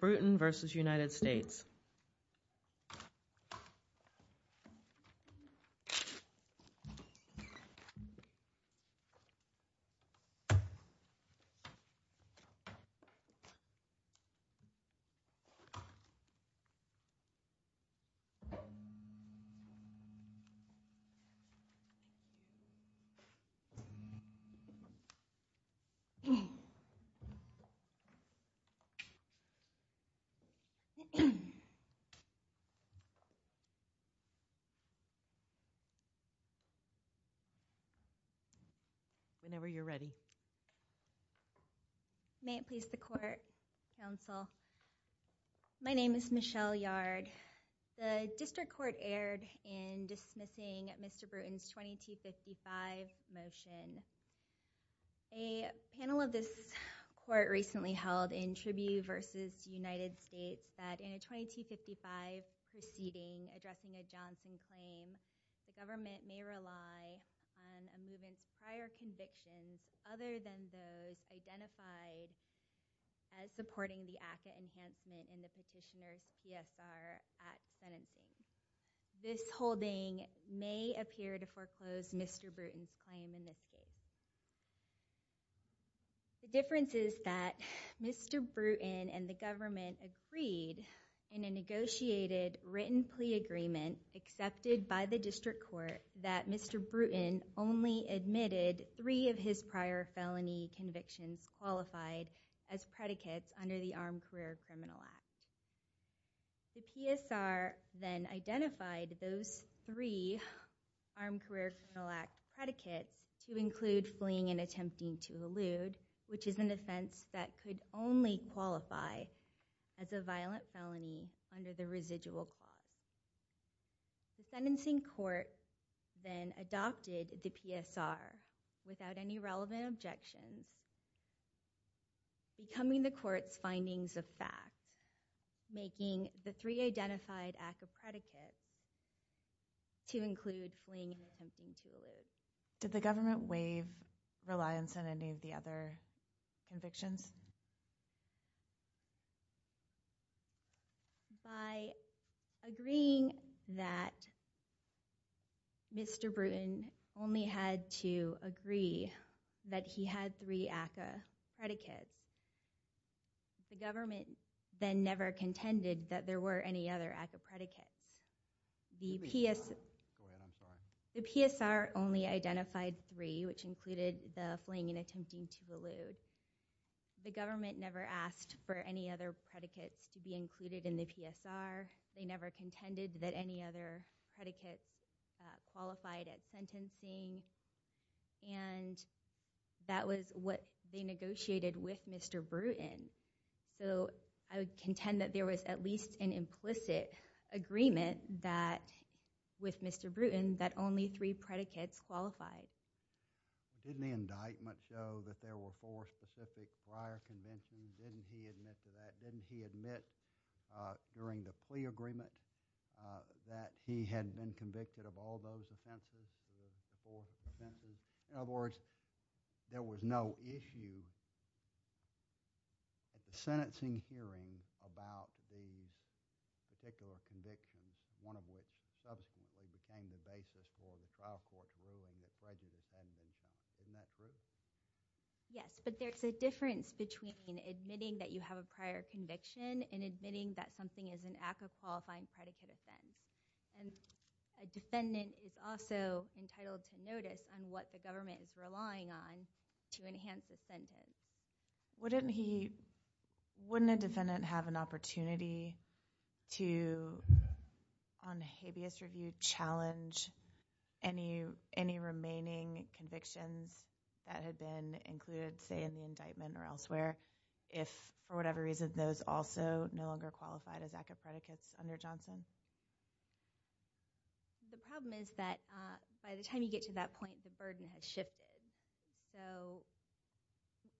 Bruton v. United States Whenever you're ready. May it please the court, counsel. My name is Michelle Yard. The district court erred in dismissing Mr. Bruton's 2255 motion. A panel of this court recently held in Tribune v. United States that in a 2255 proceeding addressing a Johnson claim, the government may rely on a movement's prior convictions other than those identified as supporting the ACCA enhancement in the petitioner's PSR at sentencing. This holding may appear to foreclose Mr. Bruton's claim in this case. The difference is that Mr. Bruton and the government agreed in a negotiated written plea agreement accepted by the district court that Mr. Bruton only admitted three of his prior felony convictions qualified as predicates under the Armed Career Criminal Act. The PSR then identified those three Armed Career Criminal Act predicates to include fleeing and attempting to elude, which is an offense that could only qualify as a violent felony under the residual clause. The sentencing court then adopted the PSR without any relevant objections, becoming the court's findings of fact, making the three identified ACCA predicates to include fleeing and attempting to elude. Did the government waive reliance on any of the other convictions? By agreeing that Mr. Bruton only had to agree that he had three ACCA predicates, the government then never contended that there were any other ACCA predicates. The PSR only identified three, which included the fleeing and attempting to elude. The government never asked for any other predicates to be included in the PSR. They never contended that any other predicates qualified at sentencing. And that was what they negotiated with Mr. Bruton. So I would contend that there was at least an implicit agreement with Mr. Bruton that only three predicates qualified. Didn't the indictment show that there were four specific prior conventions? Didn't he admit to that? Didn't he admit during the plea agreement that he had been convicted of all those offenses, the four offenses? In other words, there was no issue at the sentencing hearing about these particular convictions, one of which subsequently became the basis for the trial court's ruling that prejudice hadn't been shown. Isn't that true? Yes, but there's a difference between admitting that you have a prior conviction and admitting that something is an act of qualifying predicate offense. And a defendant is also entitled to notice on what the government is relying on to enhance a sentence. Wouldn't a defendant have an opportunity to, on habeas review, challenge any remaining convictions that had been included, say, in the indictment or elsewhere, if, for whatever reason, those also no longer qualified as act of predicates under Johnson? The problem is that by the time you get to that point, the burden has shifted. So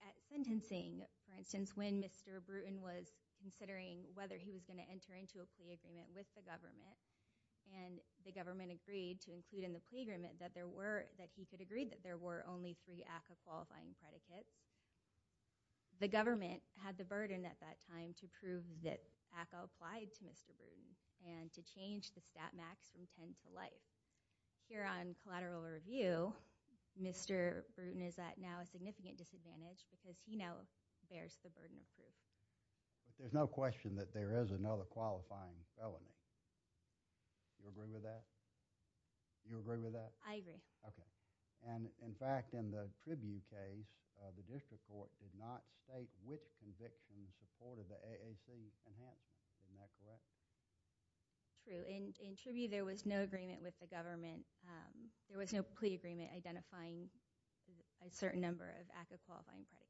at sentencing, for instance, when Mr. Bruton was considering whether he was going to enter into a plea agreement with the government and the government agreed to include in the plea agreement that he could agree that there were only three act of qualifying predicates, the government had the burden at that time to prove that ACA applied to Mr. Bruton and to change the stat max from 10 to life. Here on collateral review, Mr. Bruton is at now a significant disadvantage because he now bears the burden of proof. But there's no question that there is another qualifying felony. Do you agree with that? Do you agree with that? I agree. Okay. And, in fact, in the Tribune case, the district court did not state which conviction supported the AAC enhancement. Isn't that correct? True. In Tribune, there was no agreement with the government. There was no plea agreement identifying a certain number of act of qualifying predicates.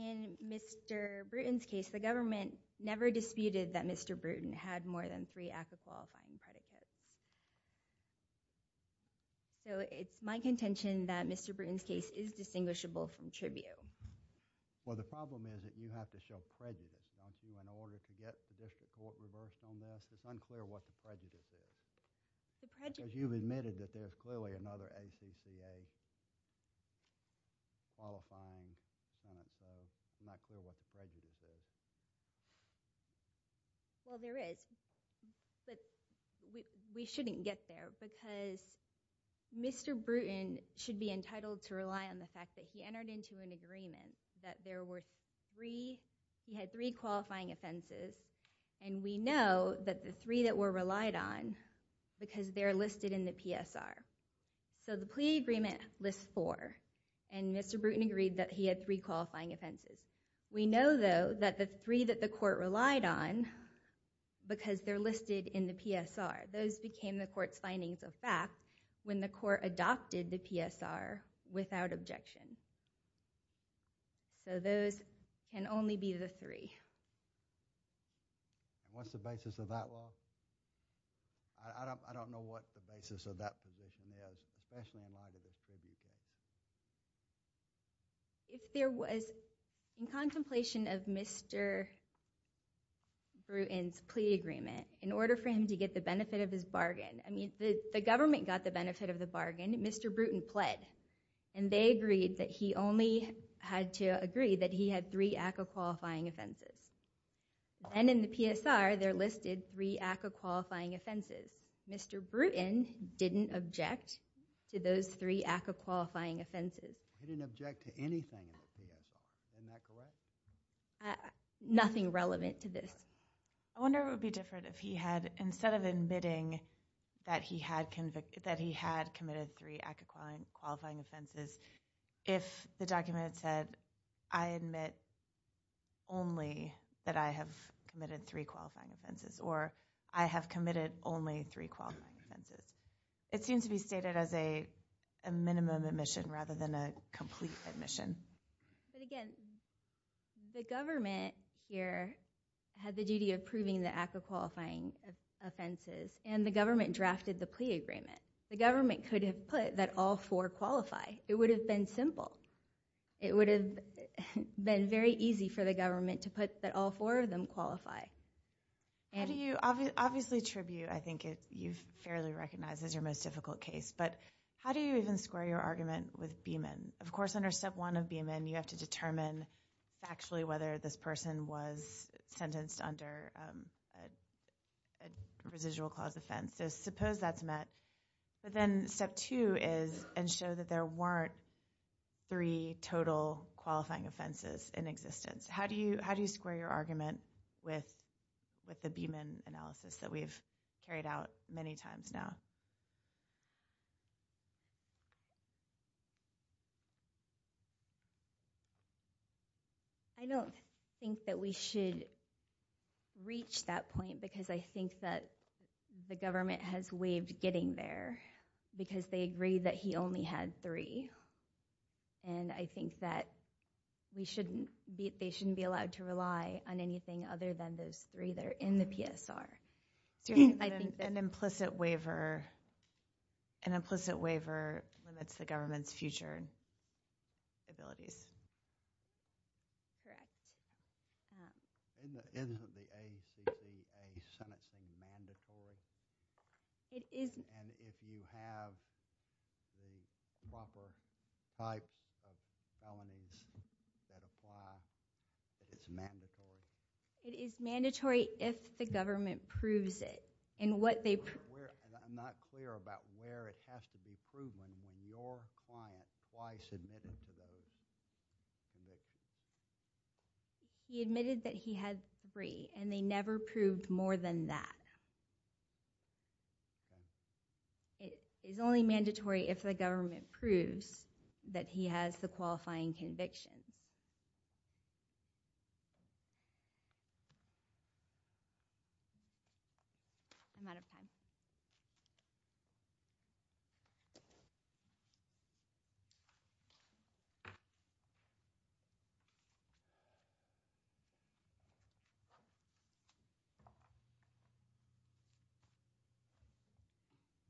In Mr. Bruton's case, the government never disputed that Mr. Bruton had more than three act of qualifying predicates. So it's my contention that Mr. Bruton's case is distinguishable from Tribune. Well, the problem is that you have to show prejudice, don't you, in order to get the district court reversed on this. It's unclear what the prejudice is. Because you've admitted that there's clearly another ACCA qualifying sentence. So it's not clear what the prejudice is. Well, there is. But we shouldn't get there because Mr. Bruton should be entitled to rely on the fact that he entered into an agreement that there were three—he had three qualifying offenses. And we know that the three that were relied on, because they're listed in the PSR. So the plea agreement lists four. And Mr. Bruton agreed that he had three qualifying offenses. We know, though, that the three that the court relied on, because they're listed in the PSR, those became the court's findings of fact when the court adopted the PSR without objection. So those can only be the three. And what's the basis of that law? I don't know what the basis of that position is, especially in light of this Tribune case. If there was, in contemplation of Mr. Bruton's plea agreement, in order for him to get the benefit of his bargain— I mean, the government got the benefit of the bargain. Mr. Bruton pled. And they agreed that he only had to agree that he had three ACCA qualifying offenses. And in the PSR, they're listed three ACCA qualifying offenses. Mr. Bruton didn't object to those three ACCA qualifying offenses. He didn't object to anything in the PSR. Isn't that correct? Nothing relevant to this. I wonder what would be different if he had, instead of admitting that he had committed three ACCA qualifying offenses, if the document had said, I admit only that I have committed three qualifying offenses or I have committed only three qualifying offenses. It seems to be stated as a minimum admission rather than a complete admission. But again, the government here had the duty of proving the ACCA qualifying offenses, and the government drafted the plea agreement. The government could have put that all four qualify. It would have been simple. It would have been very easy for the government to put that all four of them qualify. How do you—obviously, tribute, I think, you've fairly recognized as your most difficult case. But how do you even square your argument with Beeman? Of course, under Step 1 of Beeman, you have to determine factually whether this person was sentenced under a residual-clause offense. So suppose that's met. But then Step 2 is ensure that there weren't three total qualifying offenses in existence. How do you square your argument with the Beeman analysis that we've carried out many times now? I don't think that we should reach that point because I think that the government has waived getting there because they agree that he only had three. And I think that they shouldn't be allowed to rely on anything other than those three that are in the PSR. An implicit waiver limits the government's future abilities. Correct. Isn't the ACC a sentencing mandatory? It is— And if you have the proper types of felonies that apply, it's mandatory? It is mandatory if the government proves it. And what they— I'm not clear about where it has to be proven when your client twice admitted to those convictions. He admitted that he had three, and they never proved more than that. It is only mandatory if the government proves that he has the qualifying convictions. I'm out of time.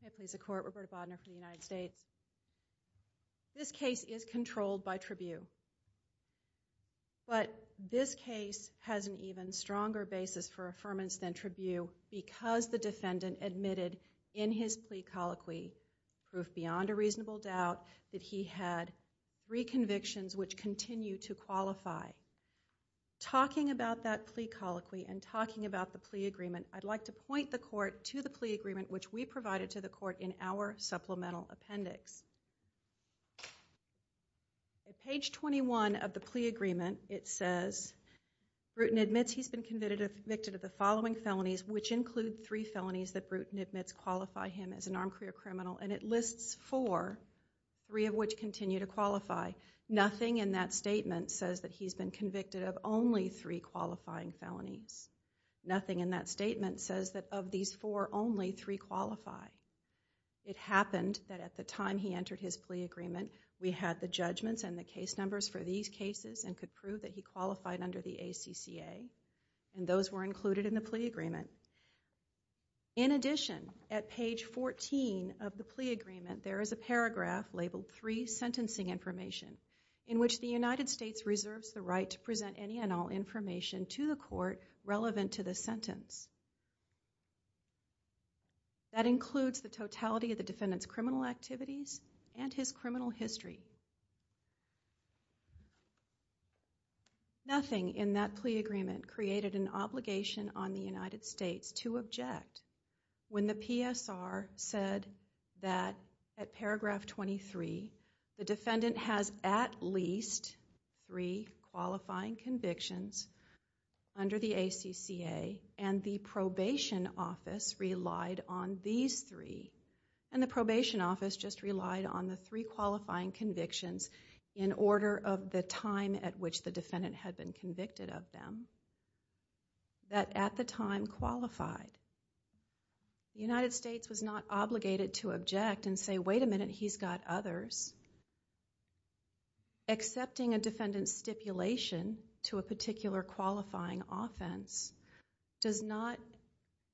May it please the Court. Roberta Bodner for the United States. This case is controlled by tribune. But this case has an even stronger basis for affirmance than tribune because the defendant admitted in his plea colloquy, proof beyond a reasonable doubt, that he had three convictions which continue to qualify. Talking about that plea colloquy and talking about the plea agreement, I'd like to point the Court to the plea agreement which we provided to the Court in our supplemental appendix. At page 21 of the plea agreement, it says, Bruton admits he's been convicted of the following felonies, which include three felonies that Bruton admits qualify him as an armed career criminal, and it lists four, three of which continue to qualify. Nothing in that statement says that he's been convicted of only three qualifying felonies. Nothing in that statement says that of these four, only three qualify. It happened that at the time he entered his plea agreement, we had the judgments and the case numbers for these cases and could prove that he qualified under the ACCA, and those were included in the plea agreement. In addition, at page 14 of the plea agreement, there is a paragraph labeled, Three Sentencing Information, in which the United States reserves the right to present any and all information to the Court relevant to the sentence. That includes the totality of the defendant's criminal activities and his criminal history. Nothing in that plea agreement created an obligation on the United States to object when the PSR said that at paragraph 23, the defendant has at least three qualifying convictions under the ACCA, and the probation office relied on these three, and the probation office just relied on the three qualifying convictions in order of the time at which the defendant had been convicted of them, that at the time qualified. The United States was not obligated to object and say, wait a minute, he's got others. Accepting a defendant's stipulation to a particular qualifying offense does not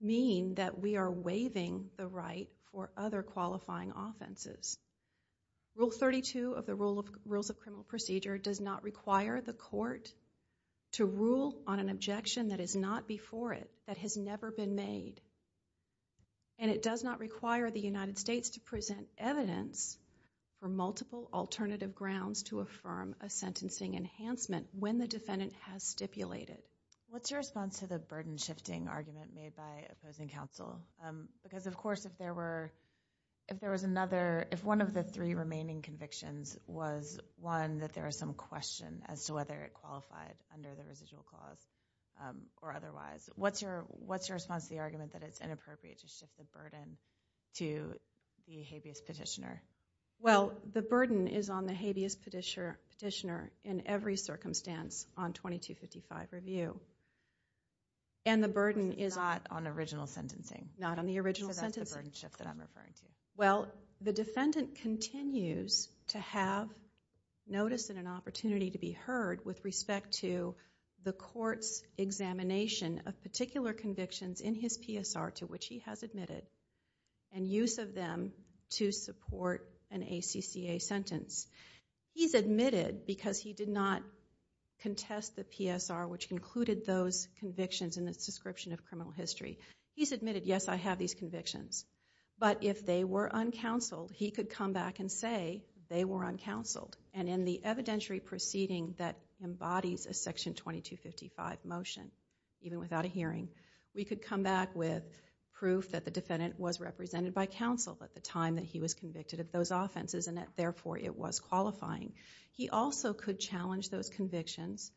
mean that we are waiving the right for other qualifying offenses. Rule 32 of the Rules of Criminal Procedure does not require the court to rule on an objection that is not before it, that has never been made, and it does not require the United States to present evidence for multiple alternative grounds to affirm a sentencing enhancement when the defendant has stipulated. What's your response to the burden-shifting argument made by opposing counsel? Because, of course, if one of the three remaining convictions was one that there is some question as to whether it qualified under the residual clause or otherwise, what's your response to the argument that it's inappropriate to shift the burden to the habeas petitioner? Well, the burden is on the habeas petitioner in every circumstance on 2255 review. It's not on original sentencing. Not on the original sentencing. So that's the burden shift that I'm referring to. Well, the defendant continues to have notice and an opportunity to be heard with respect to the court's examination of particular convictions in his PSR to which he has admitted, and use of them to support an ACCA sentence. He's admitted because he did not contest the PSR which included those convictions in its description of criminal history. He's admitted, yes, I have these convictions, but if they were uncounseled, he could come back and say they were uncounseled. And in the evidentiary proceeding that embodies a Section 2255 motion, even without a hearing, we could come back with proof that the defendant was represented by counsel at the time that he was convicted of those offenses and that, therefore, it was qualifying. He also could challenge those convictions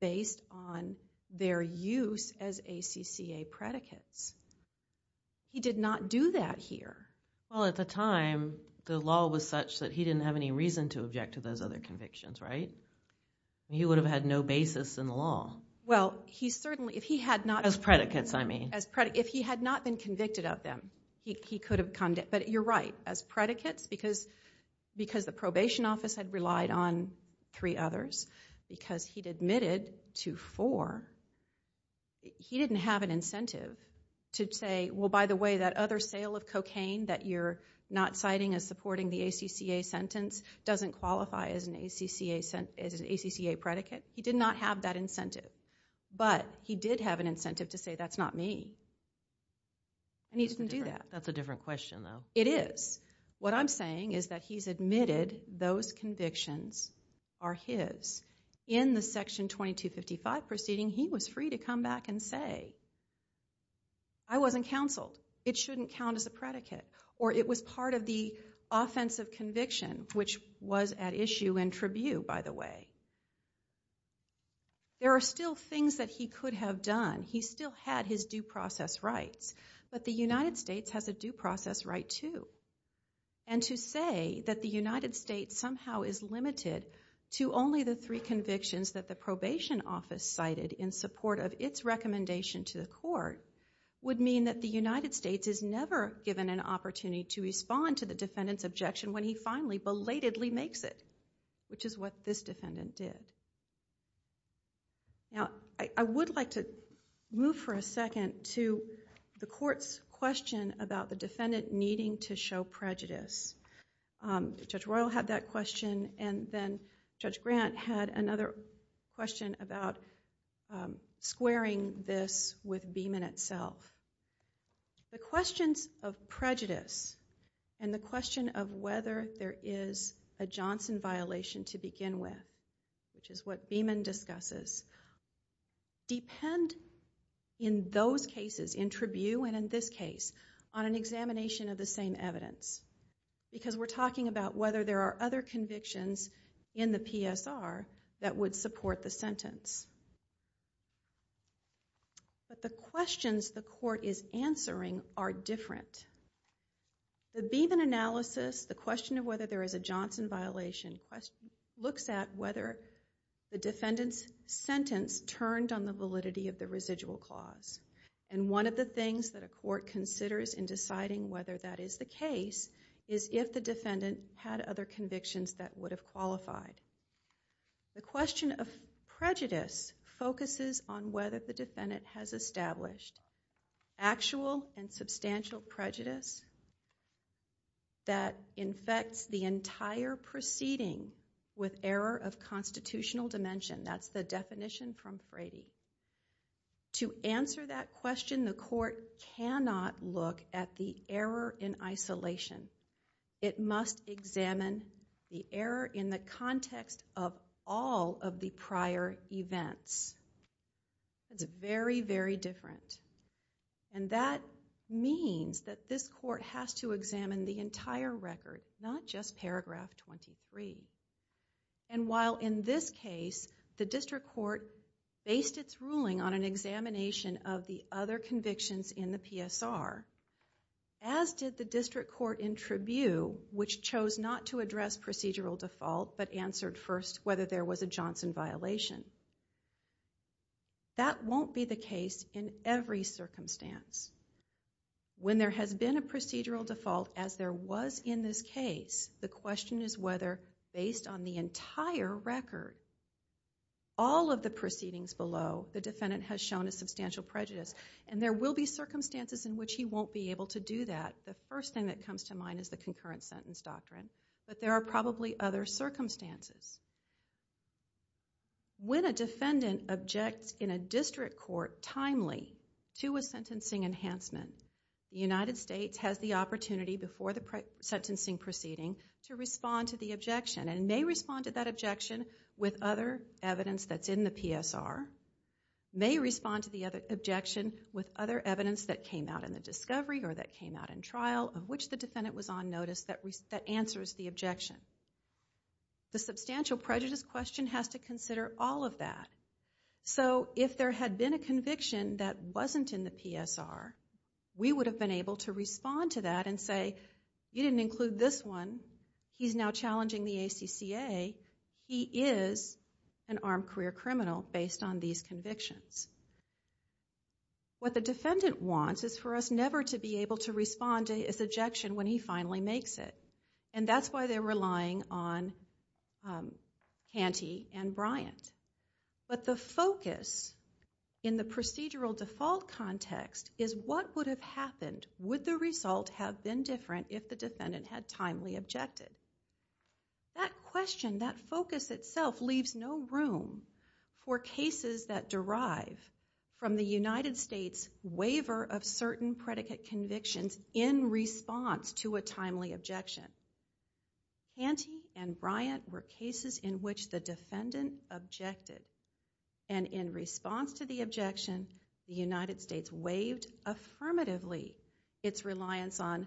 based on their use as ACCA predicates. He did not do that here. Well, at the time, the law was such that he didn't have any reason to object to those other convictions, right? He would have had no basis in the law. Well, he certainly, if he had not... As predicates, I mean. If he had not been convicted of them, he could have... But you're right. As predicates, because the probation office had relied on three others, because he'd admitted to four, he didn't have an incentive to say, well, by the way, that other sale of cocaine that you're not citing as supporting the ACCA sentence doesn't qualify as an ACCA predicate. He did not have that incentive. But he did have an incentive to say, that's not me. And he didn't do that. That's a different question, though. It is. What I'm saying is that he's admitted those convictions are his. In the Section 2255 proceeding, he was free to come back and say, I wasn't counseled. It shouldn't count as a predicate. Or it was part of the offensive conviction, which was at issue in tribute, by the way. There are still things that he could have done. He still had his due process rights. But the United States has a due process right, too. And to say that the United States somehow is limited to only the three convictions that the probation office cited in support of its recommendation to the court would mean that the United States is never given an opportunity to respond to the defendant's objection when he finally belatedly makes it, which is what this defendant did. I would like to move for a second to the court's question about the defendant needing to show prejudice. Judge Royal had that question. And then Judge Grant had another question about squaring this with Beeman itself. The questions of prejudice and the question of whether there is a Johnson violation to begin with, which is what Beeman discusses, depend in those cases, in tribute and in this case, on an examination of the same evidence. Because we're talking about whether there are other convictions in the PSR that would support the sentence. But the questions the court is answering are different. The Beeman analysis, the question of whether there is a Johnson violation, looks at whether the defendant's sentence turned on the validity of the residual clause. And one of the things that a court considers in deciding whether that is the case is if the defendant had other convictions that would have qualified. The question of prejudice focuses on whether the defendant has established actual and substantial prejudice that infects the entire proceeding with error of constitutional dimension. That's the definition from Frady. To answer that question, the court cannot look at the error in isolation. It must examine the error in the context of all of the prior events. It's very, very different. And that means that this court has to examine the entire record, not just paragraph 23. And while in this case, the district court based its ruling on an examination of the other convictions in the PSR, as did the district court in tribune, which chose not to address procedural default but answered first whether there was a Johnson violation. That won't be the case in every circumstance. When there has been a procedural default, as there was in this case, the question is whether, based on the entire record, all of the proceedings below, the defendant has shown a substantial prejudice. And there will be circumstances in which he won't be able to do that. The first thing that comes to mind is the concurrent sentence doctrine. But there are probably other circumstances. When a defendant objects in a district court timely to a sentencing enhancement, the United States has the opportunity before the sentencing proceeding to respond to the objection, and may respond to that objection with other evidence that's in the PSR, may respond to the objection with other evidence that came out in the discovery or that came out in trial of which the defendant was on notice that answers the objection. The substantial prejudice question has to consider all of that. If there had been a conviction that wasn't in the PSR, we would have been able to respond to that and say, you didn't include this one. He's now challenging the ACCA. He is an armed career criminal based on these convictions. What the defendant wants is for us never to be able to respond to his objection when he finally makes it. And that's why they're relying on Canty and Bryant. But the focus in the procedural default context is what would have happened? Would the result have been different if the defendant had timely objected? That question, that focus itself leaves no room for cases that derive from the United States waiver of certain predicate convictions in response to a timely objection. Canty and Bryant were cases in which the defendant objected. And in response to the objection, the United States waived affirmatively its reliance on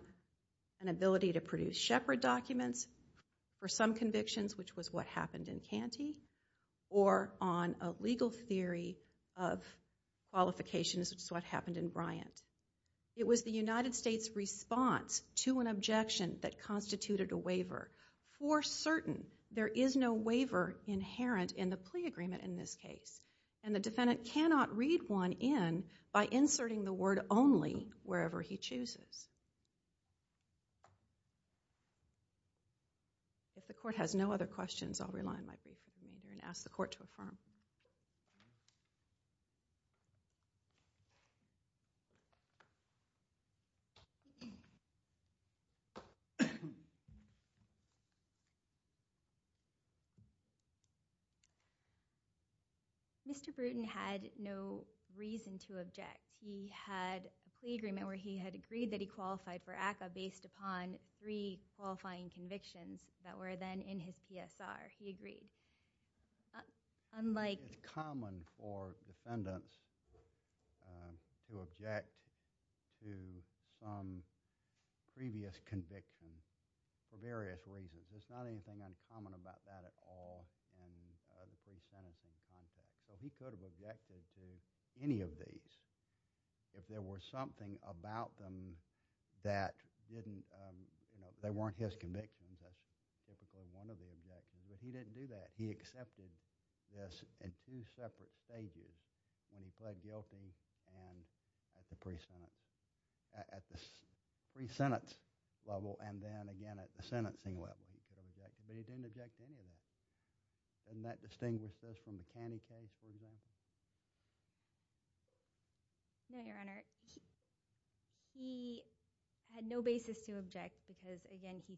an ability to produce Shepard documents for some convictions, which was what happened in Canty, or on a legal theory of qualifications, which is what happened in Bryant. It was the United States' response to an objection that constituted a waiver for certain. There is no waiver inherent in the plea agreement in this case. And the defendant cannot read one in by inserting the word only wherever he chooses. If the court has no other questions, I'll rely on my brief remainder and ask the court to affirm. Mr. Brewton had no reason to object. He had a plea agreement where he had agreed that he qualified for ACCA based upon three qualifying convictions that were then in his PSR. He agreed. It's common for defendants to object to some previous conviction for various reasons. There's not anything uncommon about that at all in the plea sentencing context. So he could have objected to any of these if there were something about them that weren't his convictions. That's typically one of the objections. But he didn't do that. He accepted this at two separate stages when he pled guilty and at the pre-sentence level and then again at the sentencing level. He could have objected. But he didn't object to any of that. Doesn't that distinguish this from the Canty case, for example? No, Your Honor. He had no basis to object because, again, he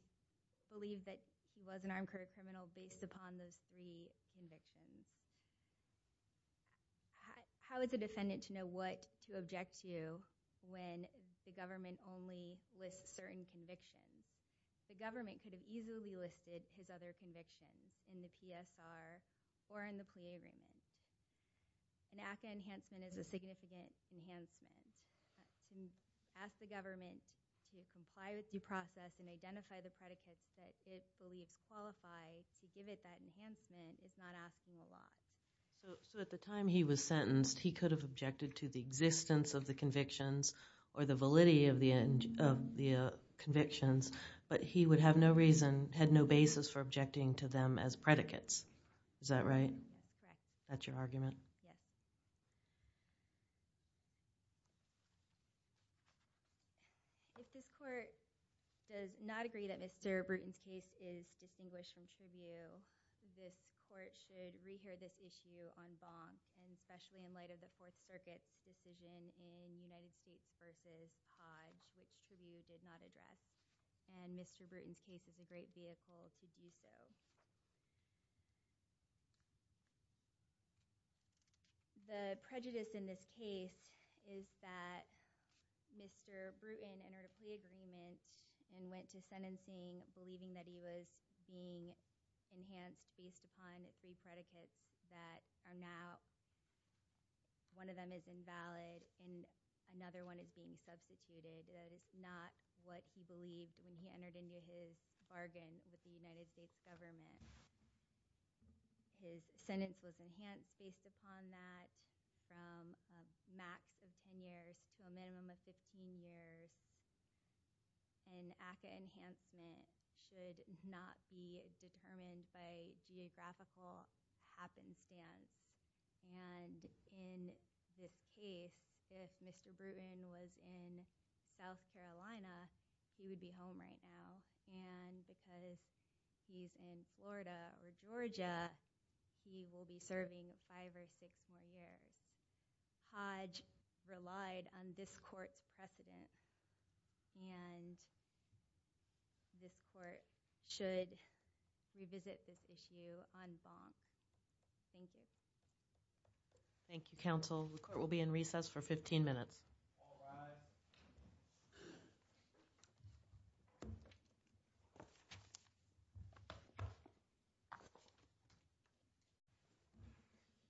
believed that he was an armed career criminal based upon those three convictions. How is a defendant to know what to object to when the government only lists certain convictions? The government could have easily listed his other convictions in the PSR or in the plea agreement. An ACCA enhancement is a significant enhancement. To ask the government to comply with due process and identify the predicates that it believes qualify to give it that enhancement is not asking a lot. So at the time he was sentenced, he could have objected to the existence of the convictions or the validity of the convictions, but he had no basis for objecting to them as predicates. Is that right? That's correct. That's your argument? Yes. If this court does not agree that Mr. Bruton's case is distinguished from tribute, this court should re-hear this issue on bond, and especially in light of the Fourth Circuit's decision in United States v. Podge, which tribute did not address. And Mr. Bruton's case is a great vehicle to do so. The prejudice in this case is that Mr. Bruton entered a plea agreement and went to sentencing believing that he was being enhanced based upon three predicates that are now, one of them is invalid and another one is being substituted. That is not what he believed when he entered into his bargain with the United States government. His sentence was enhanced based upon that from a max of 10 years to a minimum of 15 years, and ACCA enhancement should not be determined by geographical happenstance. And in this case, if Mr. Bruton was in South Carolina, he would be home right now. And because he's in Florida or Georgia, he will be serving five or six more years. Podge relied on this court's precedent, and this court should revisit this issue on bond. Thank you. Thank you, counsel. The court will be in recess for 15 minutes. All rise. Thank you.